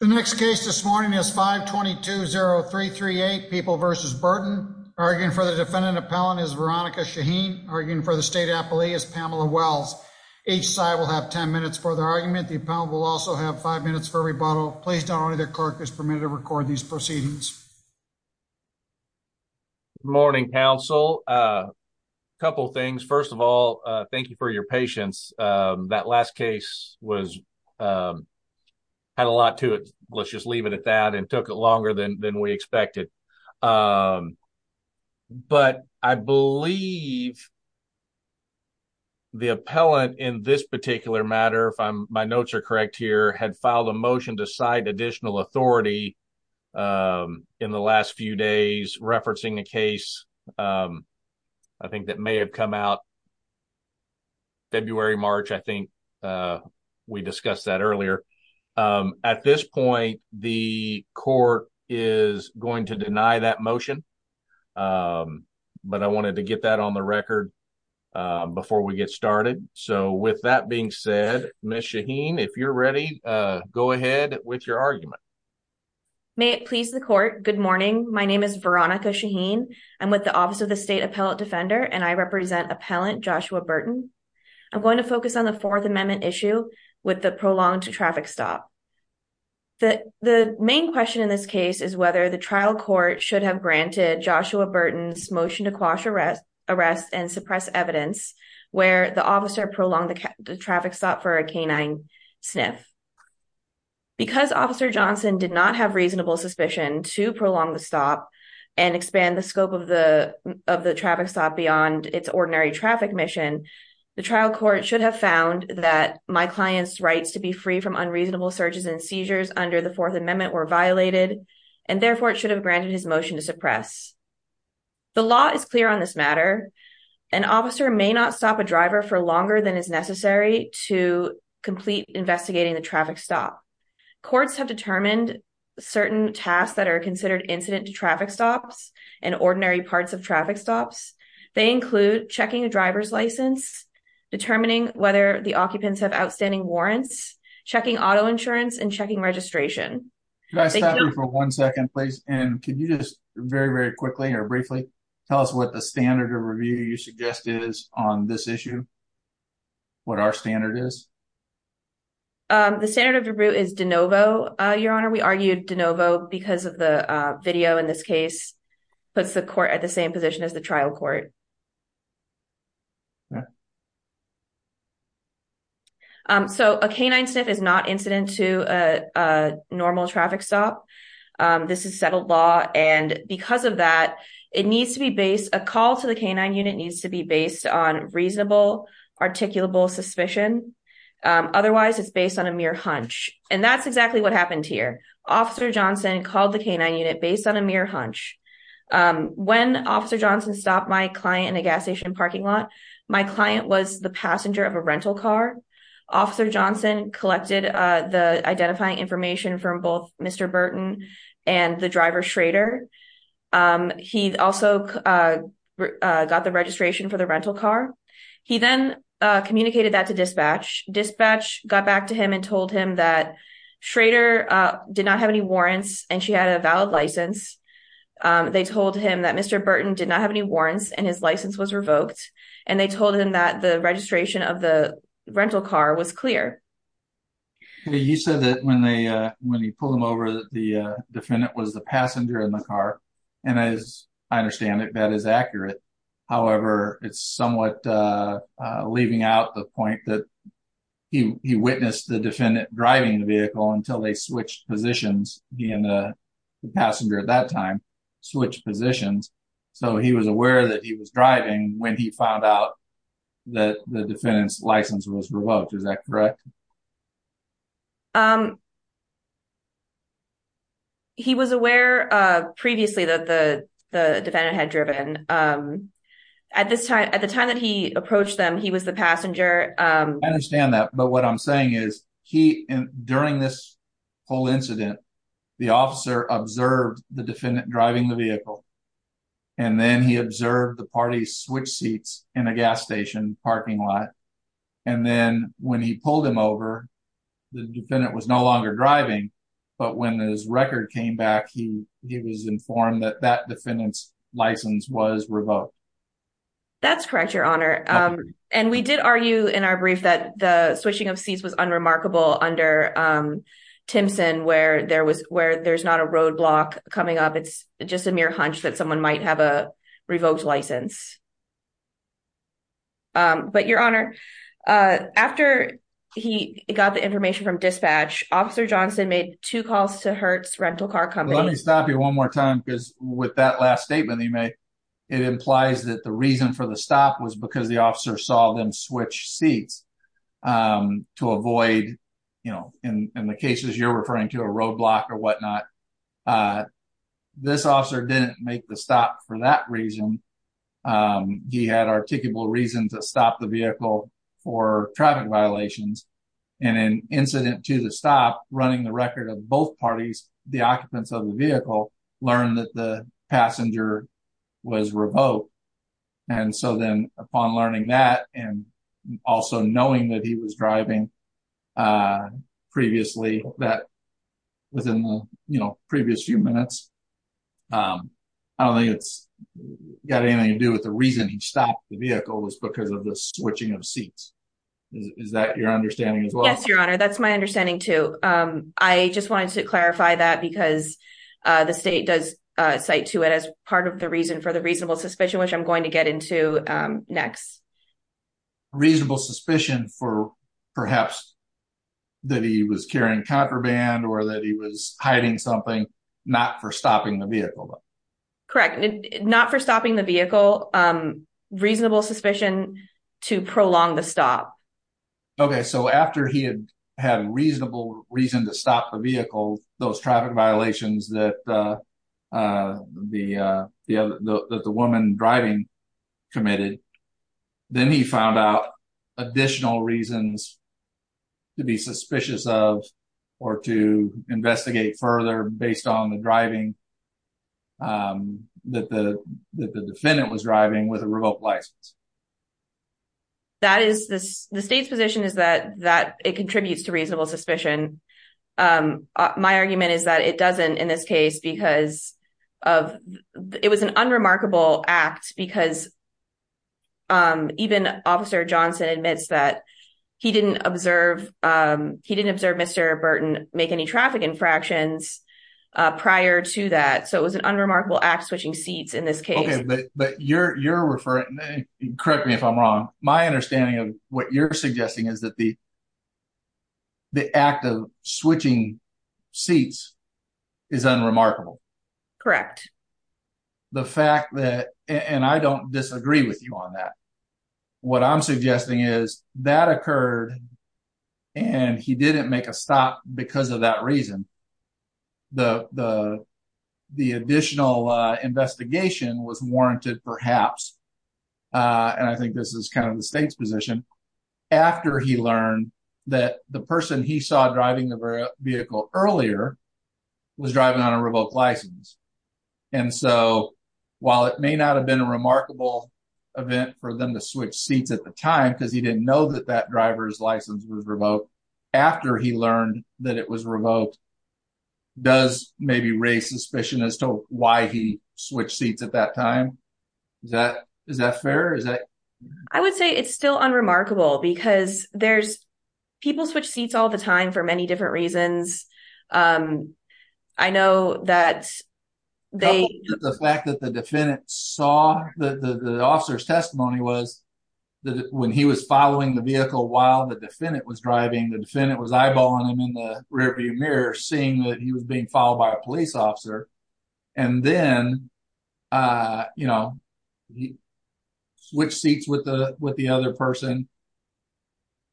The next case this morning is 52030338 people versus Burton arguing for the defendant appellant is Veronica Shaheen arguing for the state appellee is Pamela Wells, each side will have 10 minutes for the argument the appellant will also have five minutes for rebuttal, please don't only the clerk is permitted to record these proceedings. Morning Council. A couple things. First of all, thank you for your patience. That last case was had a lot to it, let's just leave it at that and took it longer than than we expected. But I believe the appellant in this particular matter if I'm my notes are correct here had filed a motion to cite additional authority. In the last few days, referencing the case. I think that may have come out. February, March, I think we discussed that earlier. At this point, the court is going to deny that motion. But I wanted to get that on the record. Before we get started. So with that being said, Miss Shaheen if you're ready. Go ahead with your argument. May it please the court. Good morning. My name is Veronica Shaheen. I'm with the Office of the State Appellate Defender and I represent appellant Joshua Burton. I'm going to focus on the Fourth Amendment issue with the prolonged traffic stop. The main question in this case is whether the trial court should have granted Joshua Burton's motion to quash arrest arrest and suppress evidence where the officer prolong the traffic stop for a canine sniff. Because Officer Johnson did not have reasonable suspicion to prolong the stop and expand the scope of the of the traffic stop beyond its ordinary traffic mission. The trial court should have found that my clients rights to be free from unreasonable searches and seizures under the Fourth Amendment were violated and therefore it should have granted his motion to suppress. The law is clear on this matter. An officer may not stop a driver for longer than is necessary to complete investigating the traffic stop. Courts have determined certain tasks that are considered incident to traffic stops and ordinary parts of traffic stops. They include checking a driver's license, determining whether the occupants have outstanding warrants, checking auto insurance and checking registration. Can I stop you for one second, please? And can you just very, very quickly or briefly tell us what the standard of review you suggest is on this issue? What our standard is? The standard of review is de novo. Your Honor, we argued de novo because of the video in this case, puts the court at the same position as the trial court. So a canine sniff is not incident to a normal traffic stop. This is settled law. And because of that, it needs to be based. A call to the canine unit needs to be based on reasonable, articulable suspicion. Otherwise, it's based on a mere hunch. And that's exactly what happened here. Officer Johnson called the canine unit based on a mere hunch. When Officer Johnson stopped my client in a gas station parking lot, my client was the passenger of a rental car. Officer Johnson collected the identifying information from both Mr. Burton and the driver Schrader. He also got the registration for the rental car. He then communicated that to dispatch. Dispatch got back to him and told him that Schrader did not have any warrants and she had a valid license. They told him that Mr. Burton did not have any warrants and his license was revoked. And they told him that the registration of the rental car was clear. You said that when they when you pull them over, the defendant was the passenger in the car. And as I understand it, that is accurate. However, it's somewhat leaving out the point that he witnessed the defendant driving the vehicle until they switched positions. He and the passenger at that time switched positions. So he was aware that he was driving when he found out that the defendant's license was revoked. Is that correct? He was aware of previously that the defendant had driven at this time. At the time that he approached them, he was the passenger. I understand that. But what I'm saying is he during this whole incident, the officer observed the defendant driving the vehicle. And then he observed the party switch seats in a gas station parking lot. And then when he pulled him over, the defendant was no longer driving. But when his record came back, he was informed that that defendant's license was revoked. That's correct, Your Honor. And we did argue in our brief that the switching of seats was unremarkable under Timpson, where there was where there's not a roadblock coming up. It's just a mere hunch that someone might have a revoked license. But, Your Honor, after he got the information from dispatch, Officer Johnson made two calls to Hertz rental car company. Let me stop you one more time, because with that last statement he made, it implies that the reason for the stop was because the officer saw them switch seats to avoid, you know, in the cases you're referring to a roadblock or whatnot. This officer didn't make the stop for that reason. He had articulable reason to stop the vehicle for traffic violations and an incident to the stop running the record of both parties. The occupants of the vehicle learned that the passenger was revoked. And so then upon learning that, and also knowing that he was driving previously, that within the previous few minutes, I don't think it's got anything to do with the reason he stopped the vehicle was because of the switching of seats. Is that your understanding as well? Yes, Your Honor. That's my understanding too. I just wanted to clarify that because the state does cite to it as part of the reason for the reasonable suspicion, which I'm going to get into next. Reasonable suspicion for perhaps that he was carrying contraband or that he was hiding something not for stopping the vehicle. Correct. Not for stopping the vehicle. Reasonable suspicion to prolong the stop. Okay, so after he had had a reasonable reason to stop the vehicle, those traffic violations that the woman driving committed, then he found out additional reasons to be suspicious of or to investigate further based on the driving that the defendant was driving with a revoked license. The state's position is that it contributes to reasonable suspicion. My argument is that it doesn't in this case because it was an unremarkable act because even Officer Johnson admits that he didn't observe Mr. Burton make any traffic infractions prior to that. So it was an unremarkable act switching seats in this case. Okay, but you're referring, correct me if I'm wrong, my understanding of what you're suggesting is that the act of switching seats is unremarkable. Correct. The fact that, and I don't disagree with you on that, what I'm suggesting is that occurred and he didn't make a stop because of that reason. The additional investigation was warranted perhaps, and I think this is kind of the state's position, after he learned that the person he saw driving the vehicle earlier was driving on a revoked license. And so while it may not have been a remarkable event for them to switch seats at the time because he didn't know that that driver's license was revoked, after he learned that it was revoked, does maybe raise suspicion as to why he switched seats at that time? Is that fair? I would say it's still unremarkable because people switch seats all the time for many different reasons. I know that they… The fact that the defendant saw, the officer's testimony was that when he was following the vehicle while the defendant was driving, the defendant was eyeballing him in the rearview mirror, seeing that he was being followed by a police officer. And then, you know, he switched seats with the other person.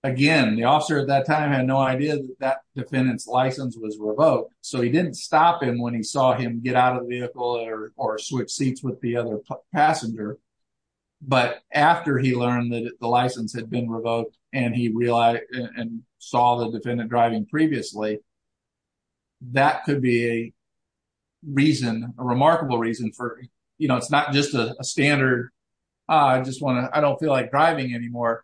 Again, the officer at that time had no idea that that defendant's license was revoked, so he didn't stop him when he saw him get out of the vehicle or switch seats with the other passenger. But after he learned that the license had been revoked and he realized and saw the defendant driving previously, that could be a reason, a remarkable reason for, you know, it's not just a standard, I just want to, I don't feel like driving anymore.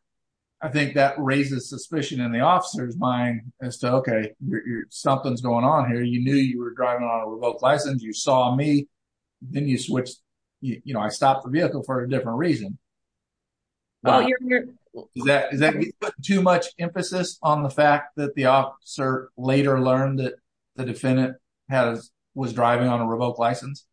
I think that raises suspicion in the officer's mind as to, okay, something's going on here, you knew you were driving on a revoked license, you saw me, then you switched, you know, I stopped the vehicle for a different reason. Is that too much emphasis on the fact that the officer later learned that the defendant was driving on a revoked license?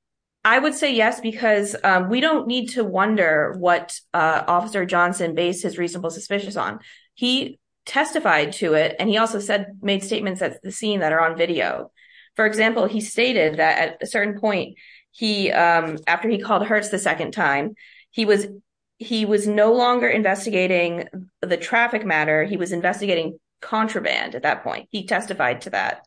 I would say yes, because we don't need to wonder what Officer Johnson based his reasonable suspicions on. He testified to it, and he also said, made statements at the scene that are on video. For example, he stated that at a certain point, he, after he called Hertz the second time, he was no longer investigating the traffic matter, he was investigating contraband at that point. He testified to that.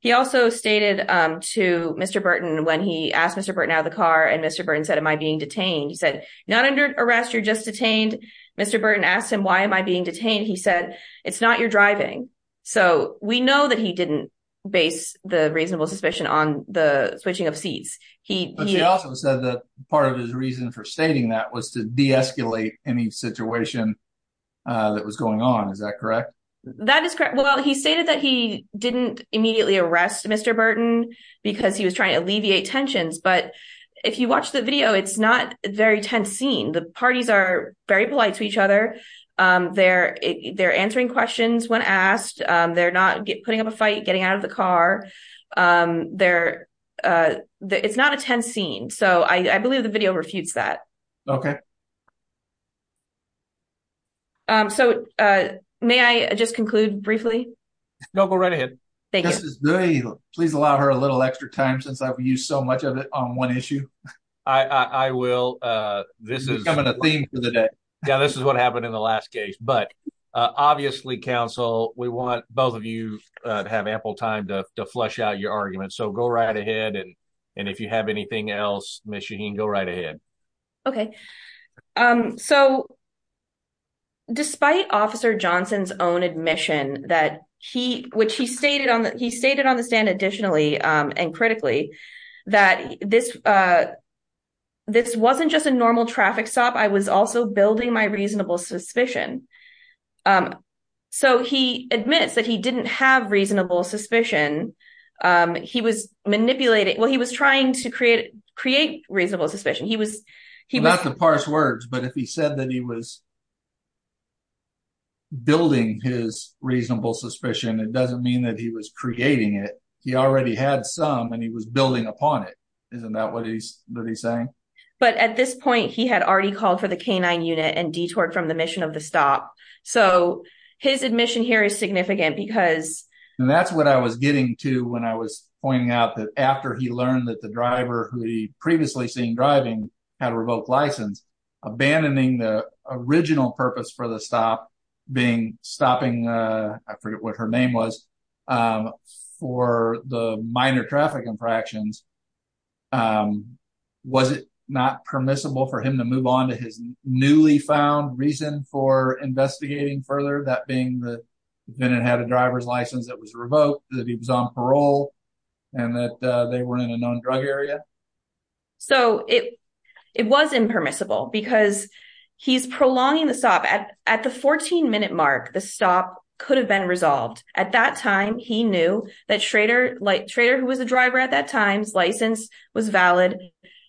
He also stated to Mr. Burton, when he asked Mr. Burton out of the car, and Mr. Burton said, am I being detained? He said, not under arrest, you're just detained. Mr. Burton asked him, why am I being detained? He said, it's not your driving. So we know that he didn't base the reasonable suspicion on the switching of seats. But he also said that part of his reason for stating that was to de-escalate any situation that was going on, is that correct? That is correct. Well, he stated that he didn't immediately arrest Mr. Burton because he was trying to alleviate tensions. But if you watch the video, it's not a very tense scene. The parties are very polite to each other. They're answering questions when asked. They're not putting up a fight, getting out of the car. It's not a tense scene. So I believe the video refutes that. Okay. So may I just conclude briefly? No, go right ahead. Thank you. Justice Duhey, please allow her a little extra time since I've used so much of it on one issue. I will. This is becoming a theme for the day. Yeah, this is what happened in the last case. But obviously, counsel, we want both of you to have ample time to flesh out your argument. So go right ahead. And if you have anything else, Ms. Shaheen, go right ahead. Okay. So despite Officer Johnson's own admission, which he stated on the stand additionally and critically, that this wasn't just a normal traffic stop, I was also building my reasonable suspicion. So he admits that he didn't have reasonable suspicion. He was manipulating. Well, he was trying to create reasonable suspicion. Not to parse words, but if he said that he was building his reasonable suspicion, it doesn't mean that he was creating it. He already had some, and he was building upon it. Isn't that what he's saying? But at this point, he had already called for the K-9 unit and detoured from the mission of the stop. So his admission here is significant because… And that's what I was getting to when I was pointing out that after he learned that the driver, who he previously seen driving, had a revoked license, abandoning the original purpose for the stop being stopping, I forget what her name was, for the minor traffic infractions, was it not permissible for him to move on to his newly found reason for investigating further, that being that Bennett had a driver's license that was revoked, that he was on parole, and that they were in a non-drug area? So it was impermissible because he's prolonging the stop. At the 14-minute mark, the stop could have been resolved. At that time, he knew that Schrader, who was the driver at that time, his license was valid,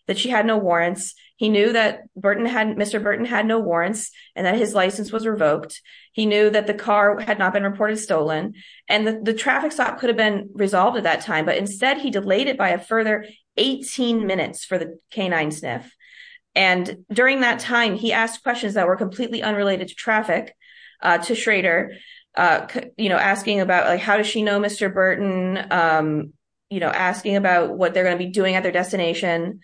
that she had no warrants. He knew that Mr. Burton had no warrants and that his license was revoked. He knew that the car had not been reported stolen. And the traffic stop could have been resolved at that time, but instead he delayed it by a further 18 minutes for the canine sniff. And during that time, he asked questions that were completely unrelated to traffic to Schrader, asking about how does she know Mr. Burton, asking about what they're going to be doing at their destination.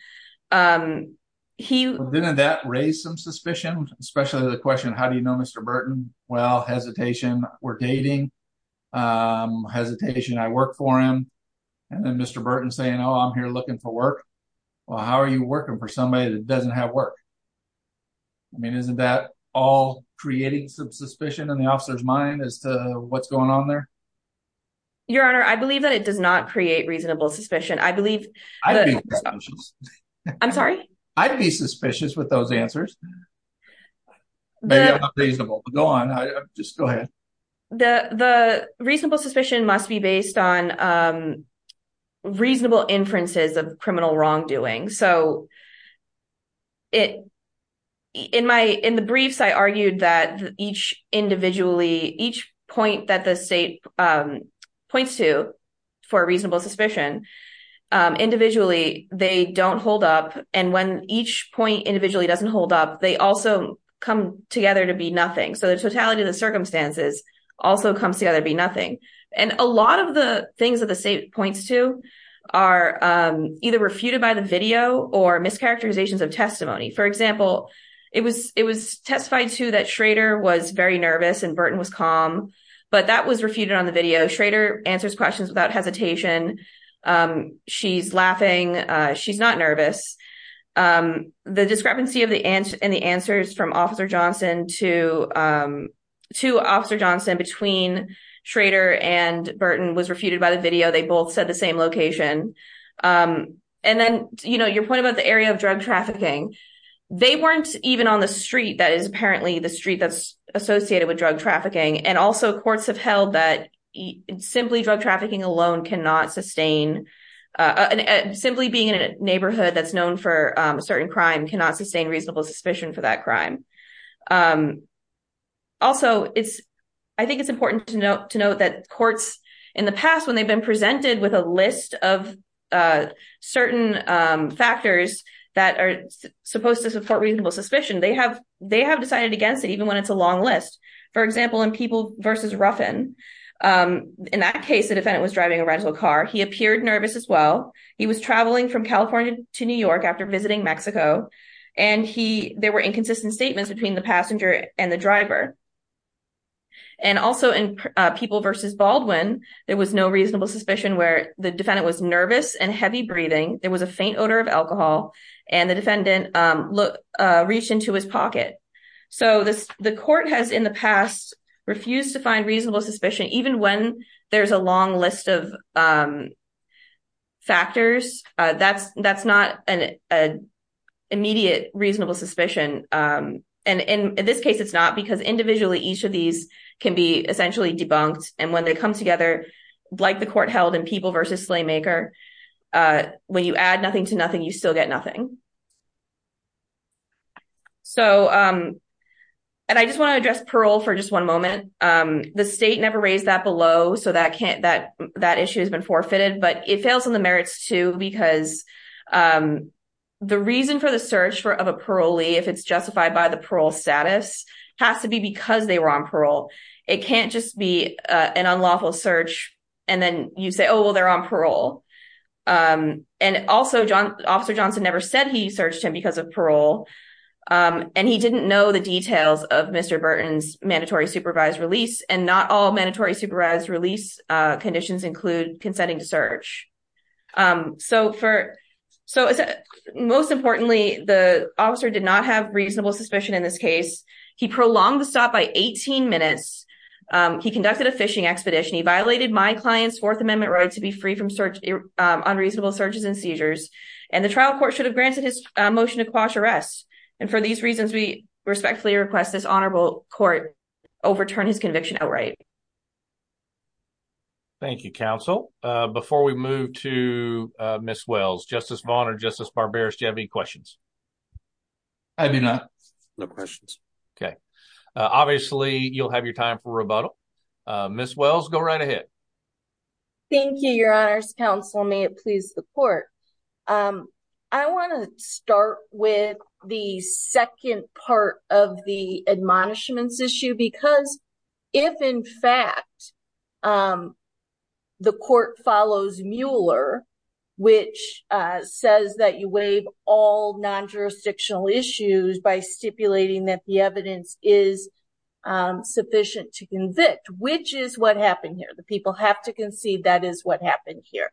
Didn't that raise some suspicion, especially the question, how do you know Mr. Burton? Well, hesitation, we're dating, hesitation, I work for him. And then Mr. Burton saying, oh, I'm here looking for work. Well, how are you working for somebody that doesn't have work? I mean, isn't that all creating some suspicion in the officer's mind as to what's going on there? Your Honor, I believe that it does not create reasonable suspicion. I'd be suspicious. I'm sorry? I'd be suspicious with those answers. Maybe I'm not reasonable, but go on, just go ahead. The reasonable suspicion must be based on reasonable inferences of criminal wrongdoing. So in the briefs, I argued that each point that the state points to for reasonable suspicion, individually, they don't hold up. And when each point individually doesn't hold up, they also come together to be nothing. So the totality of the circumstances also comes together to be nothing. And a lot of the things that the state points to are either refuted by the video or mischaracterizations of testimony. For example, it was testified to that Schrader was very nervous and Burton was calm, but that was refuted on the video. Schrader answers questions without hesitation. She's laughing. She's not nervous. The discrepancy in the answers from Officer Johnson to Officer Johnson between Schrader and Burton was refuted by the video. They both said the same location. And then, you know, your point about the area of drug trafficking, they weren't even on the street that is apparently the street that's associated with drug trafficking. And also, courts have held that simply being in a neighborhood that's known for a certain crime cannot sustain reasonable suspicion for that crime. Also, I think it's important to note that courts in the past, when they've been presented with a list of certain factors that are supposed to support reasonable suspicion, they have decided against it, even when it's a long list. For example, in People v. Ruffin, in that case, the defendant was driving a rental car. He appeared nervous as well. He was traveling from California to New York after visiting Mexico, and there were inconsistent statements between the passenger and the driver. And also, in People v. Baldwin, there was no reasonable suspicion where the defendant was nervous and heavy breathing. There was a faint odor of alcohol, and the defendant reached into his pocket. So the court has in the past refused to find reasonable suspicion, even when there's a long list of factors. That's not an immediate reasonable suspicion. And in this case, it's not, because individually, each of these can be essentially debunked. And when they come together, like the court held in People v. Slaymaker, when you add nothing to nothing, you still get nothing. So, and I just want to address parole for just one moment. The state never raised that below, so that issue has been forfeited. But it fails in the merits, too, because the reason for the search of a parolee, if it's justified by the parole status, has to be because they were on parole. It can't just be an unlawful search, and then you say, oh, well, they're on parole. And also, Officer Johnson never said he searched him because of parole, and he didn't know the details of Mr. Burton's mandatory supervised release. And not all mandatory supervised release conditions include consenting to search. So, most importantly, the officer did not have reasonable suspicion in this case. He prolonged the stop by 18 minutes. He conducted a fishing expedition. He violated my client's Fourth Amendment right to be free from unreasonable searches and seizures. And the trial court should have granted his motion to quash arrest. And for these reasons, we respectfully request this honorable court overturn his conviction outright. Thank you, counsel. Before we move to Ms. Wells, Justice Vaughn or Justice Barberis, do you have any questions? I do not. No questions. Okay. Obviously, you'll have your time for rebuttal. Ms. Wells, go right ahead. Thank you, Your Honor's counsel. May it please the court. I want to start with the second part of the admonishments issue because if, in fact, the court follows Mueller, which says that you waive all non-jurisdictional issues by stipulating that the evidence is sufficient to convict, which is what happened here. The people have to concede that is what happened here.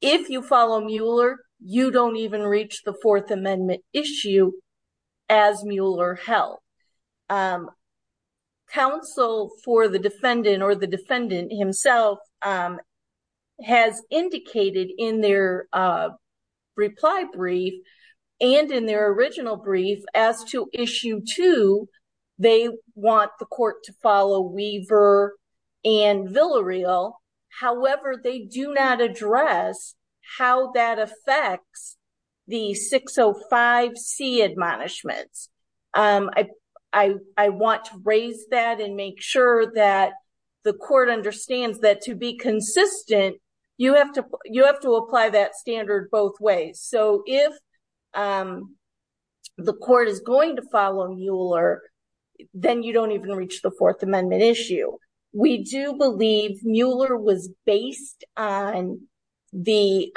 If you follow Mueller, you don't even reach the Fourth Amendment issue as Mueller held. Counsel for the defendant or the defendant himself has indicated in their reply brief and in their original brief as to issue two, they want the court to follow Weaver and Villareal. However, they do not address how that affects the 605C admonishments. I want to raise that and make sure that the court understands that to be consistent, you have to apply that standard both ways. So if the court is going to follow Mueller, then you don't even reach the Fourth Amendment issue. We do believe Mueller was based on the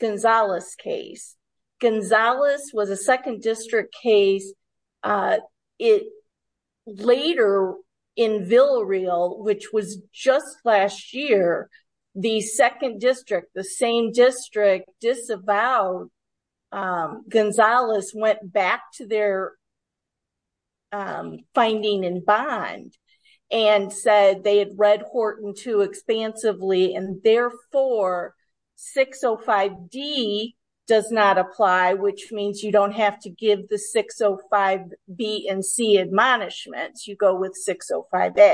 Gonzales case. Gonzales was a second district case. Later in Villareal, which was just last year, the second district, the same district disavowed. Gonzales went back to their finding in Bond and said they had read Horton too expansively and therefore 605D does not apply, which means you don't have to give the 605B and C admonishments. You go with 605A.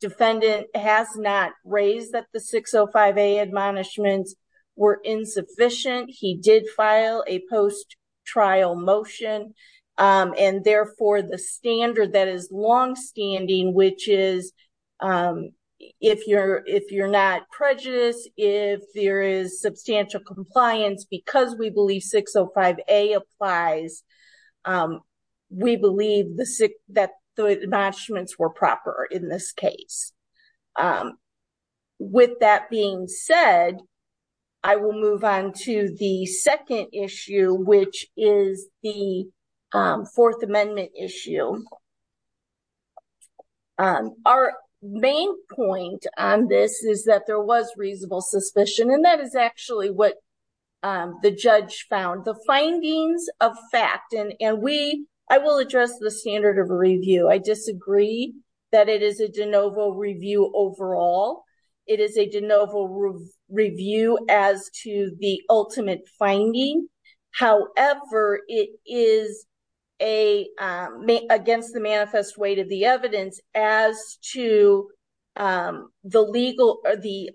Defendant has not raised that the 605A admonishments were insufficient. He did file a post-trial motion. And therefore, the standard that is longstanding, which is if you're not prejudiced, if there is substantial compliance because we believe 605A applies, we believe that the admonishments were proper in this case. With that being said, I will move on to the second issue, which is the Fourth Amendment issue. Our main point on this is that there was reasonable suspicion, and that is actually what the judge found. The findings of fact, and we, I will address the standard of review. I disagree that it is a de novo review overall. It is a de novo review as to the ultimate finding. However, it is against the manifest weight of the evidence as to the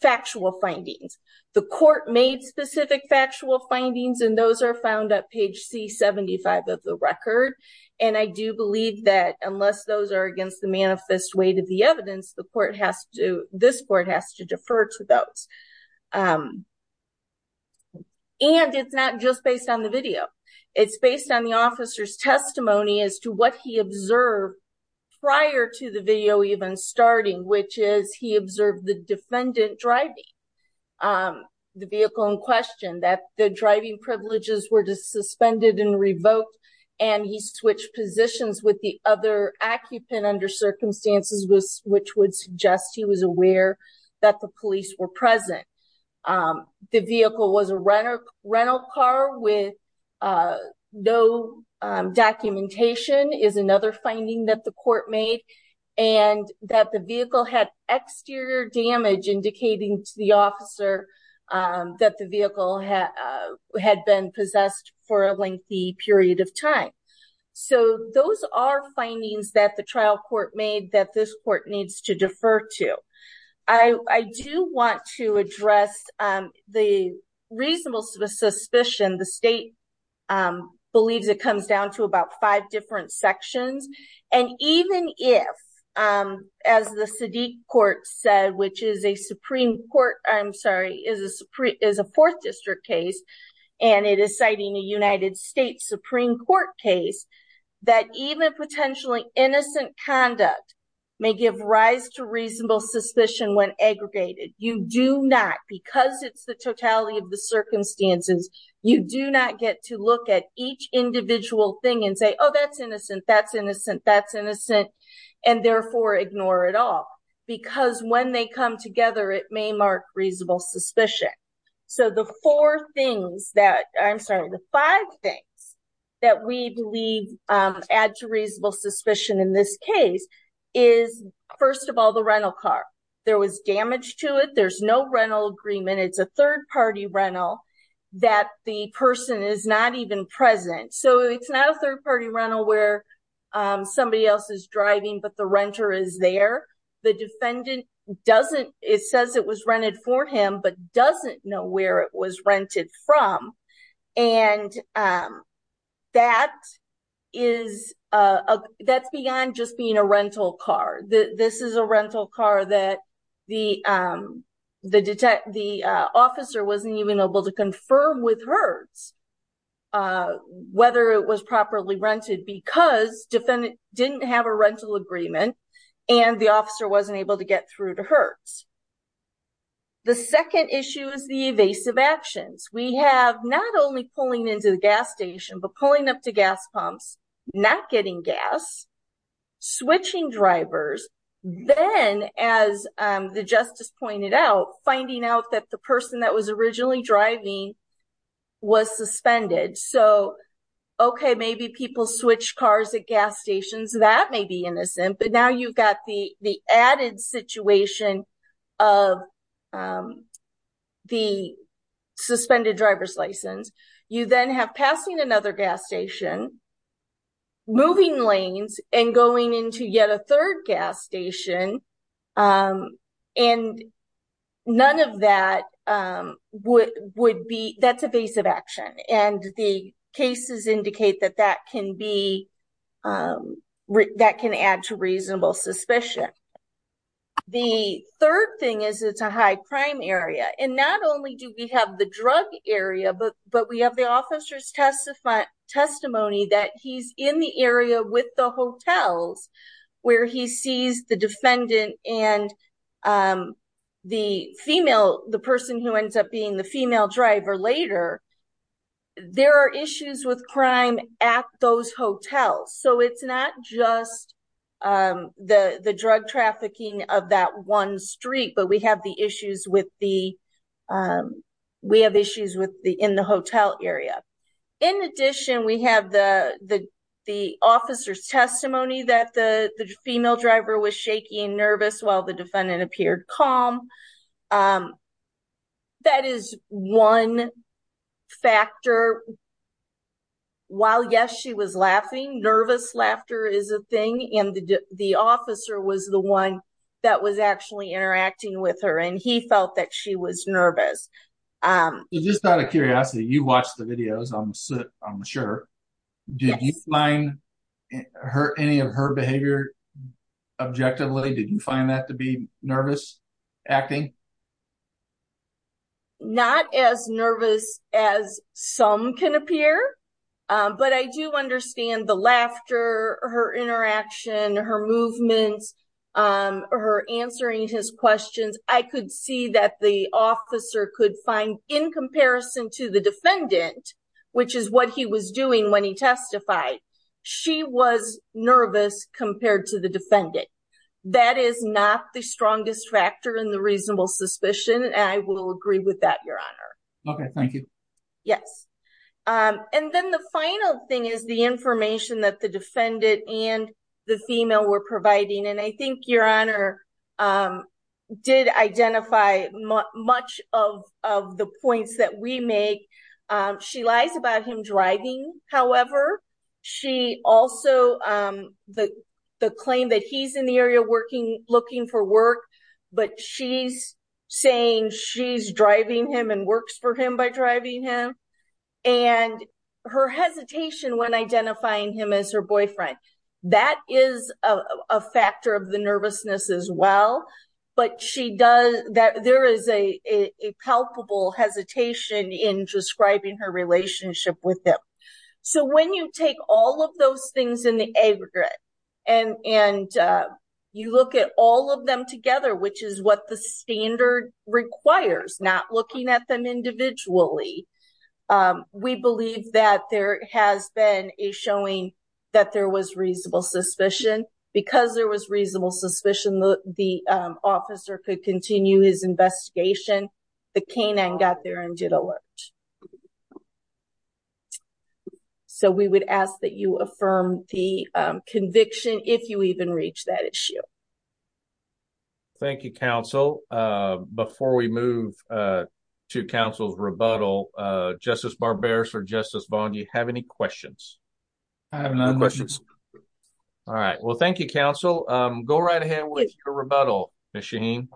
factual findings. The court made specific factual findings, and those are found at page C75 of the record. And I do believe that unless those are against the manifest weight of the evidence, the court has to, this court has to defer to those. And it's not just based on the video. It's based on the officer's testimony as to what he observed prior to the video even starting, which is he observed the defendant driving the vehicle in question, that the driving privileges were suspended and revoked, and he switched positions with the other occupant under circumstances, which would suggest he was aware that the police were present. The vehicle was a rental car with no documentation is another finding that the court made, and that the vehicle had exterior damage indicating to the officer that the vehicle had been possessed for a lengthy period of time. So those are findings that the trial court made that this court needs to defer to. I do want to address the reasonable suspicion. The state believes it comes down to about five different sections. And even if, as the Sadiq court said, which is a Supreme Court, I'm sorry, is a Fourth District case, and it is citing a United States Supreme Court case, that even potentially innocent conduct may give rise to reasonable suspicion when aggregated. You do not, because it's the totality of the circumstances, you do not get to look at each individual thing and say, oh, that's innocent, that's innocent, that's innocent, and therefore ignore it all because when they come together, it may mark reasonable suspicion. So the four things that I'm sorry, the five things that we believe add to reasonable suspicion in this case is, first of all, the rental car. There was damage to it. There's no rental agreement. It's a third party rental that the person is not even present. So it's not a third party rental where somebody else is driving, but the renter is there. The defendant doesn't, it says it was rented for him, but doesn't know where it was rented from. And that is, that's beyond just being a rental car. This is a rental car that the officer wasn't even able to confirm with Hertz, whether it was properly rented because defendant didn't have a rental agreement and the officer wasn't able to get through to Hertz. The second issue is the evasive actions. We have not only pulling into the gas station, but pulling up to gas pumps, not getting gas, switching drivers. Then, as the justice pointed out, finding out that the person that was originally driving was suspended. So, okay, maybe people switch cars at gas stations. But now you've got the added situation of the suspended driver's license. You then have passing another gas station, moving lanes, and going into yet a third gas station. And none of that would be, that's evasive action. And the cases indicate that that can be, that can add to reasonable suspicion. The third thing is it's a high crime area. And not only do we have the drug area, but we have the officer's testimony that he's in the area with the hotels, where he sees the defendant and the female, the person who ends up being the female driver later. There are issues with crime at those hotels. So it's not just the drug trafficking of that one street, but we have the issues with the, we have issues in the hotel area. In addition, we have the officer's testimony that the female driver was shaky and nervous while the defendant appeared calm. That is one factor. While, yes, she was laughing, nervous laughter is a thing. And the officer was the one that was actually interacting with her. And he felt that she was nervous. Just out of curiosity, you watched the videos, I'm sure. Did you find any of her behavior objectively? Did you find that to be nervous acting? Not as nervous as some can appear. But I do understand the laughter, her interaction, her movements, her answering his questions. I could see that the officer could find in comparison to the defendant, which is what he was doing when he testified. She was nervous compared to the defendant. That is not the strongest factor in the reasonable suspicion. And I will agree with that, Your Honor. Okay, thank you. Yes. And then the final thing is the information that the defendant and the female were providing. And I think, Your Honor, did identify much of the points that we make. She lies about him driving, however. She also, the claim that he's in the area looking for work, but she's saying she's driving him and works for him by driving him. And her hesitation when identifying him as her boyfriend. That is a factor of the nervousness as well. But there is a palpable hesitation in describing her relationship with him. So when you take all of those things in the aggregate and you look at all of them together, which is what the standard requires, not looking at them individually, we believe that there has been a showing that there was reasonable suspicion. Because there was reasonable suspicion, the officer could continue his investigation. The canine got there and did alert. So we would ask that you affirm the conviction if you even reach that issue. Thank you, counsel. Before we move to counsel's rebuttal, Justice Barberis or Justice Vaughn, do you have any questions? I have no questions. All right. Well, thank you, counsel. Go right ahead with your rebuttal, Ms. Shaheen.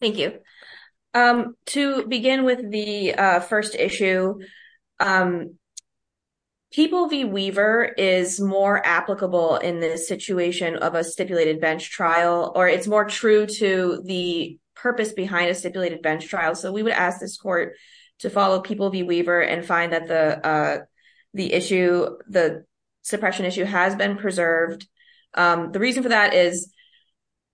Thank you. To begin with the first issue, People v. Weaver is more applicable in the situation of a stipulated bench trial, or it's more true to the purpose behind a stipulated bench trial. So we would ask this court to follow People v. Weaver and find that the suppression issue has been preserved. The reason for that is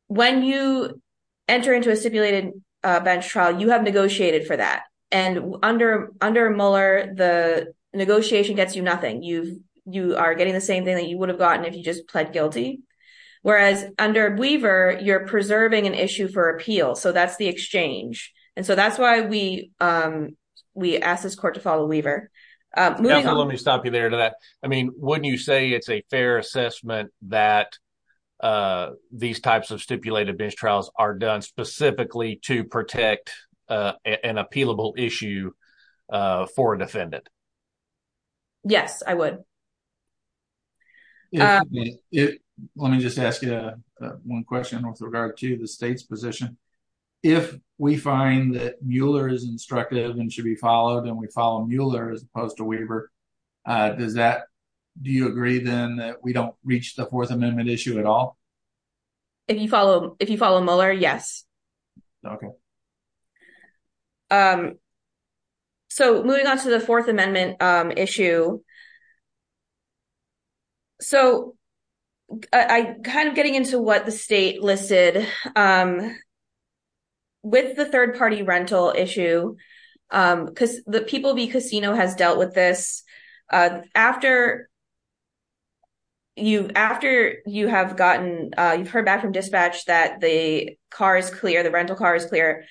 when you enter into a stipulated bench trial, you have negotiated for that. And under Mueller, the negotiation gets you nothing. You are getting the same thing that you would have gotten if you just pled guilty. Whereas under Weaver, you're preserving an issue for appeal. So that's the exchange. And so that's why we ask this court to follow Weaver. Let me stop you there to that. I mean, wouldn't you say it's a fair assessment that these types of stipulated bench trials are done specifically to protect an appealable issue for a defendant? Yes, I would. Let me just ask you one question with regard to the state's position. If we find that Mueller is instructive and should be followed and we follow Mueller as opposed to Weaver, do you agree then that we don't reach the Fourth Amendment issue at all? If you follow Mueller, yes. Okay. So moving on to the Fourth Amendment issue. So kind of getting into what the state listed with the third-party rental issue, because the People v. Casino has dealt with this. After you've heard back from dispatch that the car is clear, the rental car is clear,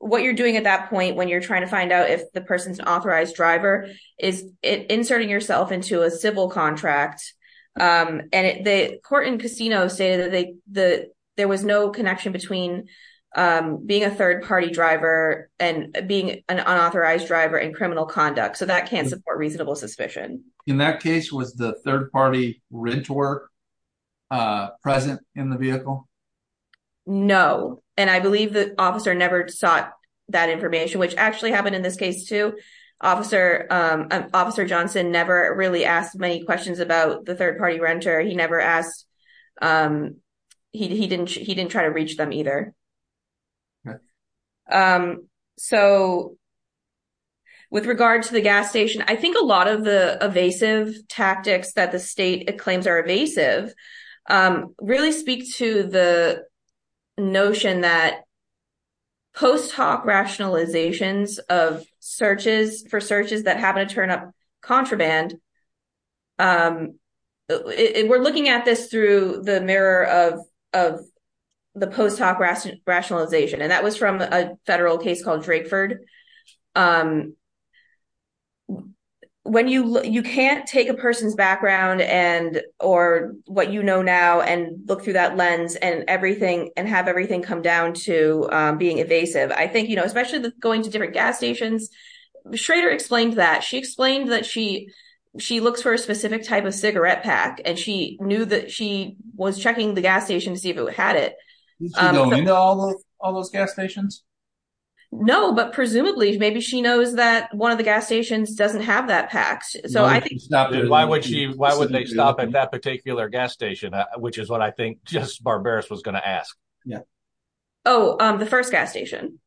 what you're doing at that point when you're trying to find out if the person's an authorized driver is inserting yourself into a civil contract. And the court in Casino stated that there was no connection between being a third-party driver and being an unauthorized driver in criminal conduct. So that can't support reasonable suspicion. In that case, was the third-party renter present in the vehicle? No. And I believe the officer never sought that information, which actually happened in this case, too. Officer Johnson never really asked many questions about the third-party renter. He never asked. He didn't. He didn't try to reach them either. Right. And that was from a federal case called Drakeford. You can't take a person's background or what you know now and look through that lens and have everything come down to being evasive. I think, you know, especially going to different gas stations, Schrader explained that. She explained that she looks for a specific type of cigarette pack, and she knew that she was checking the gas station to see if it had it. Did she go into all those gas stations? No, but presumably, maybe she knows that one of the gas stations doesn't have that pack. Why would she stop at that particular gas station, which is what I think just Barbaras was going to ask? Yeah. Oh, the first gas station.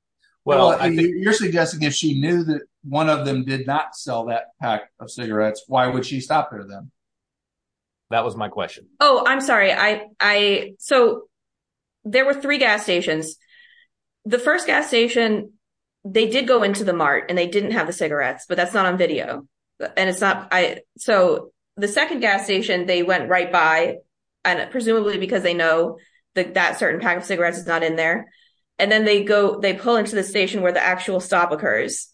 Well, you're suggesting if she knew that one of them did not sell that pack of cigarettes, why would she stop there then? That was my question. Oh, I'm sorry. So there were three gas stations. The first gas station, they did go into the mart and they didn't have the cigarettes, but that's not on video. And so the second gas station, they went right by, presumably because they know that that certain pack of cigarettes is not in there. And then they go, they pull into the station where the actual stop occurs.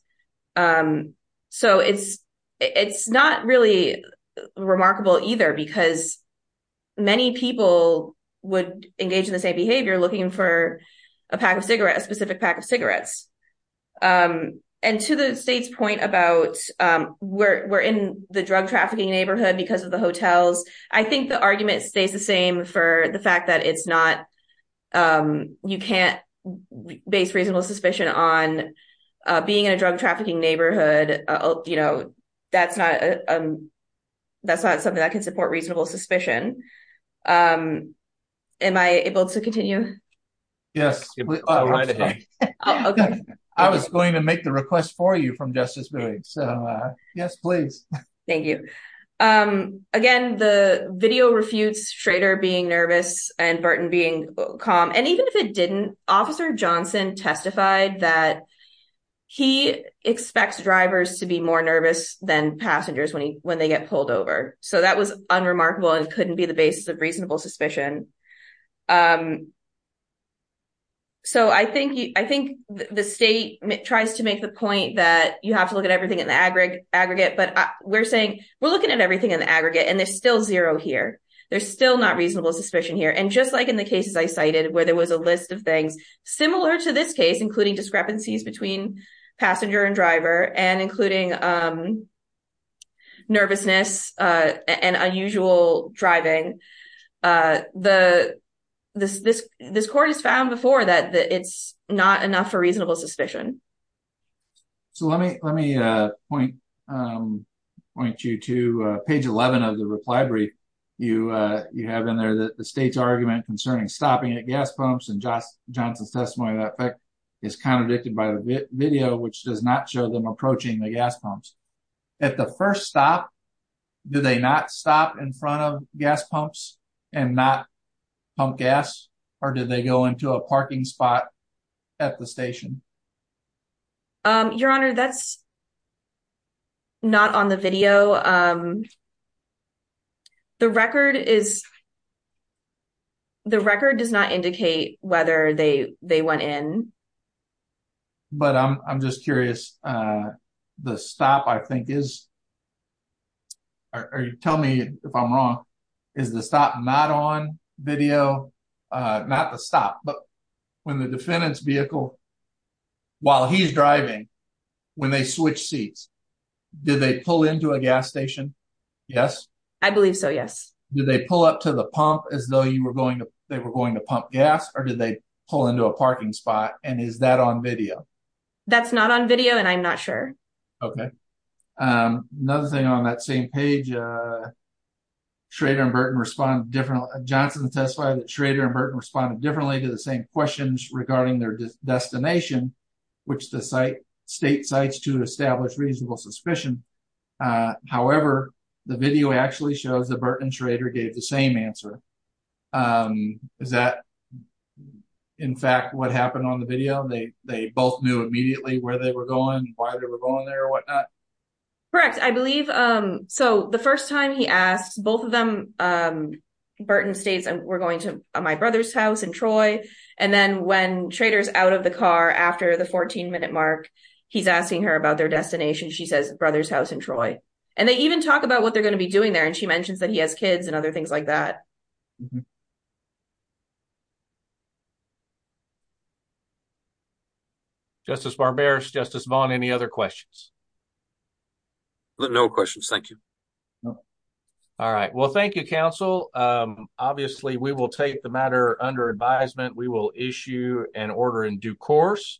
So it's not really remarkable either, because many people would engage in the same behavior looking for a pack of cigarettes, a specific pack of cigarettes. And to the state's point about we're in the drug trafficking neighborhood because of the hotels, I think the argument stays the same for the fact that it's not you can't base reasonable suspicion on being in a drug trafficking neighborhood. You know, that's not that's not something that can support reasonable suspicion. Am I able to continue? Yes. Okay. I was going to make the request for you from justice. So, yes, please. Thank you. Again, the video refutes Schrader being nervous and Burton being calm. And even if it didn't, Officer Johnson testified that he expects drivers to be more nervous than passengers when they get pulled over. So that was unremarkable and couldn't be the basis of reasonable suspicion. So I think I think the state tries to make the point that you have to look at everything in the aggregate aggregate. But we're saying we're looking at everything in the aggregate and there's still zero here. There's still not reasonable suspicion here. And just like in the cases I cited where there was a list of things similar to this case, including discrepancies between passenger and driver and including nervousness and unusual driving. The this this this court has found before that it's not enough for reasonable suspicion. So let me let me point point you to page 11 of the reply brief you you have in there that the state's argument concerning stopping at gas pumps and just Johnson's testimony that is contradicted by the video, which does not show them approaching the gas pumps at the first stop. Do they not stop in front of gas pumps and not pump gas or do they go into a parking spot at the station? Your Honor, that's not on the video. The record is. The record does not indicate whether they they went in. But I'm just curious. The stop, I think, is. Tell me if I'm wrong. Is the stop not on video? Not the stop. But when the defendant's vehicle. While he's driving, when they switch seats, did they pull into a gas station? Yes, I believe so. Yes. Did they pull up to the pump as though you were going to they were going to pump gas or did they pull into a parking spot? And is that on video? That's not on video. And I'm not sure. OK, another thing on that same page. Schrader and Burton respond differently. Johnson testified that Schrader and Burton responded differently to the same questions regarding their destination, which the site state sites to establish reasonable suspicion. However, the video actually shows the Burton Schrader gave the same answer. Is that, in fact, what happened on the video? They they both knew immediately where they were going, why they were going there or whatnot. Correct, I believe. So the first time he asked both of them, Burton states and we're going to my brother's house in Troy. And then when traders out of the car after the 14 minute mark, he's asking her about their destination. She says brother's house in Troy. And they even talk about what they're going to be doing there. And she mentions that he has kids and other things like that. Justice Barbera, Justice Vaughn, any other questions? No questions. Thank you. All right. Well, thank you, counsel. Obviously, we will take the matter under advisement. We will issue an order in due course.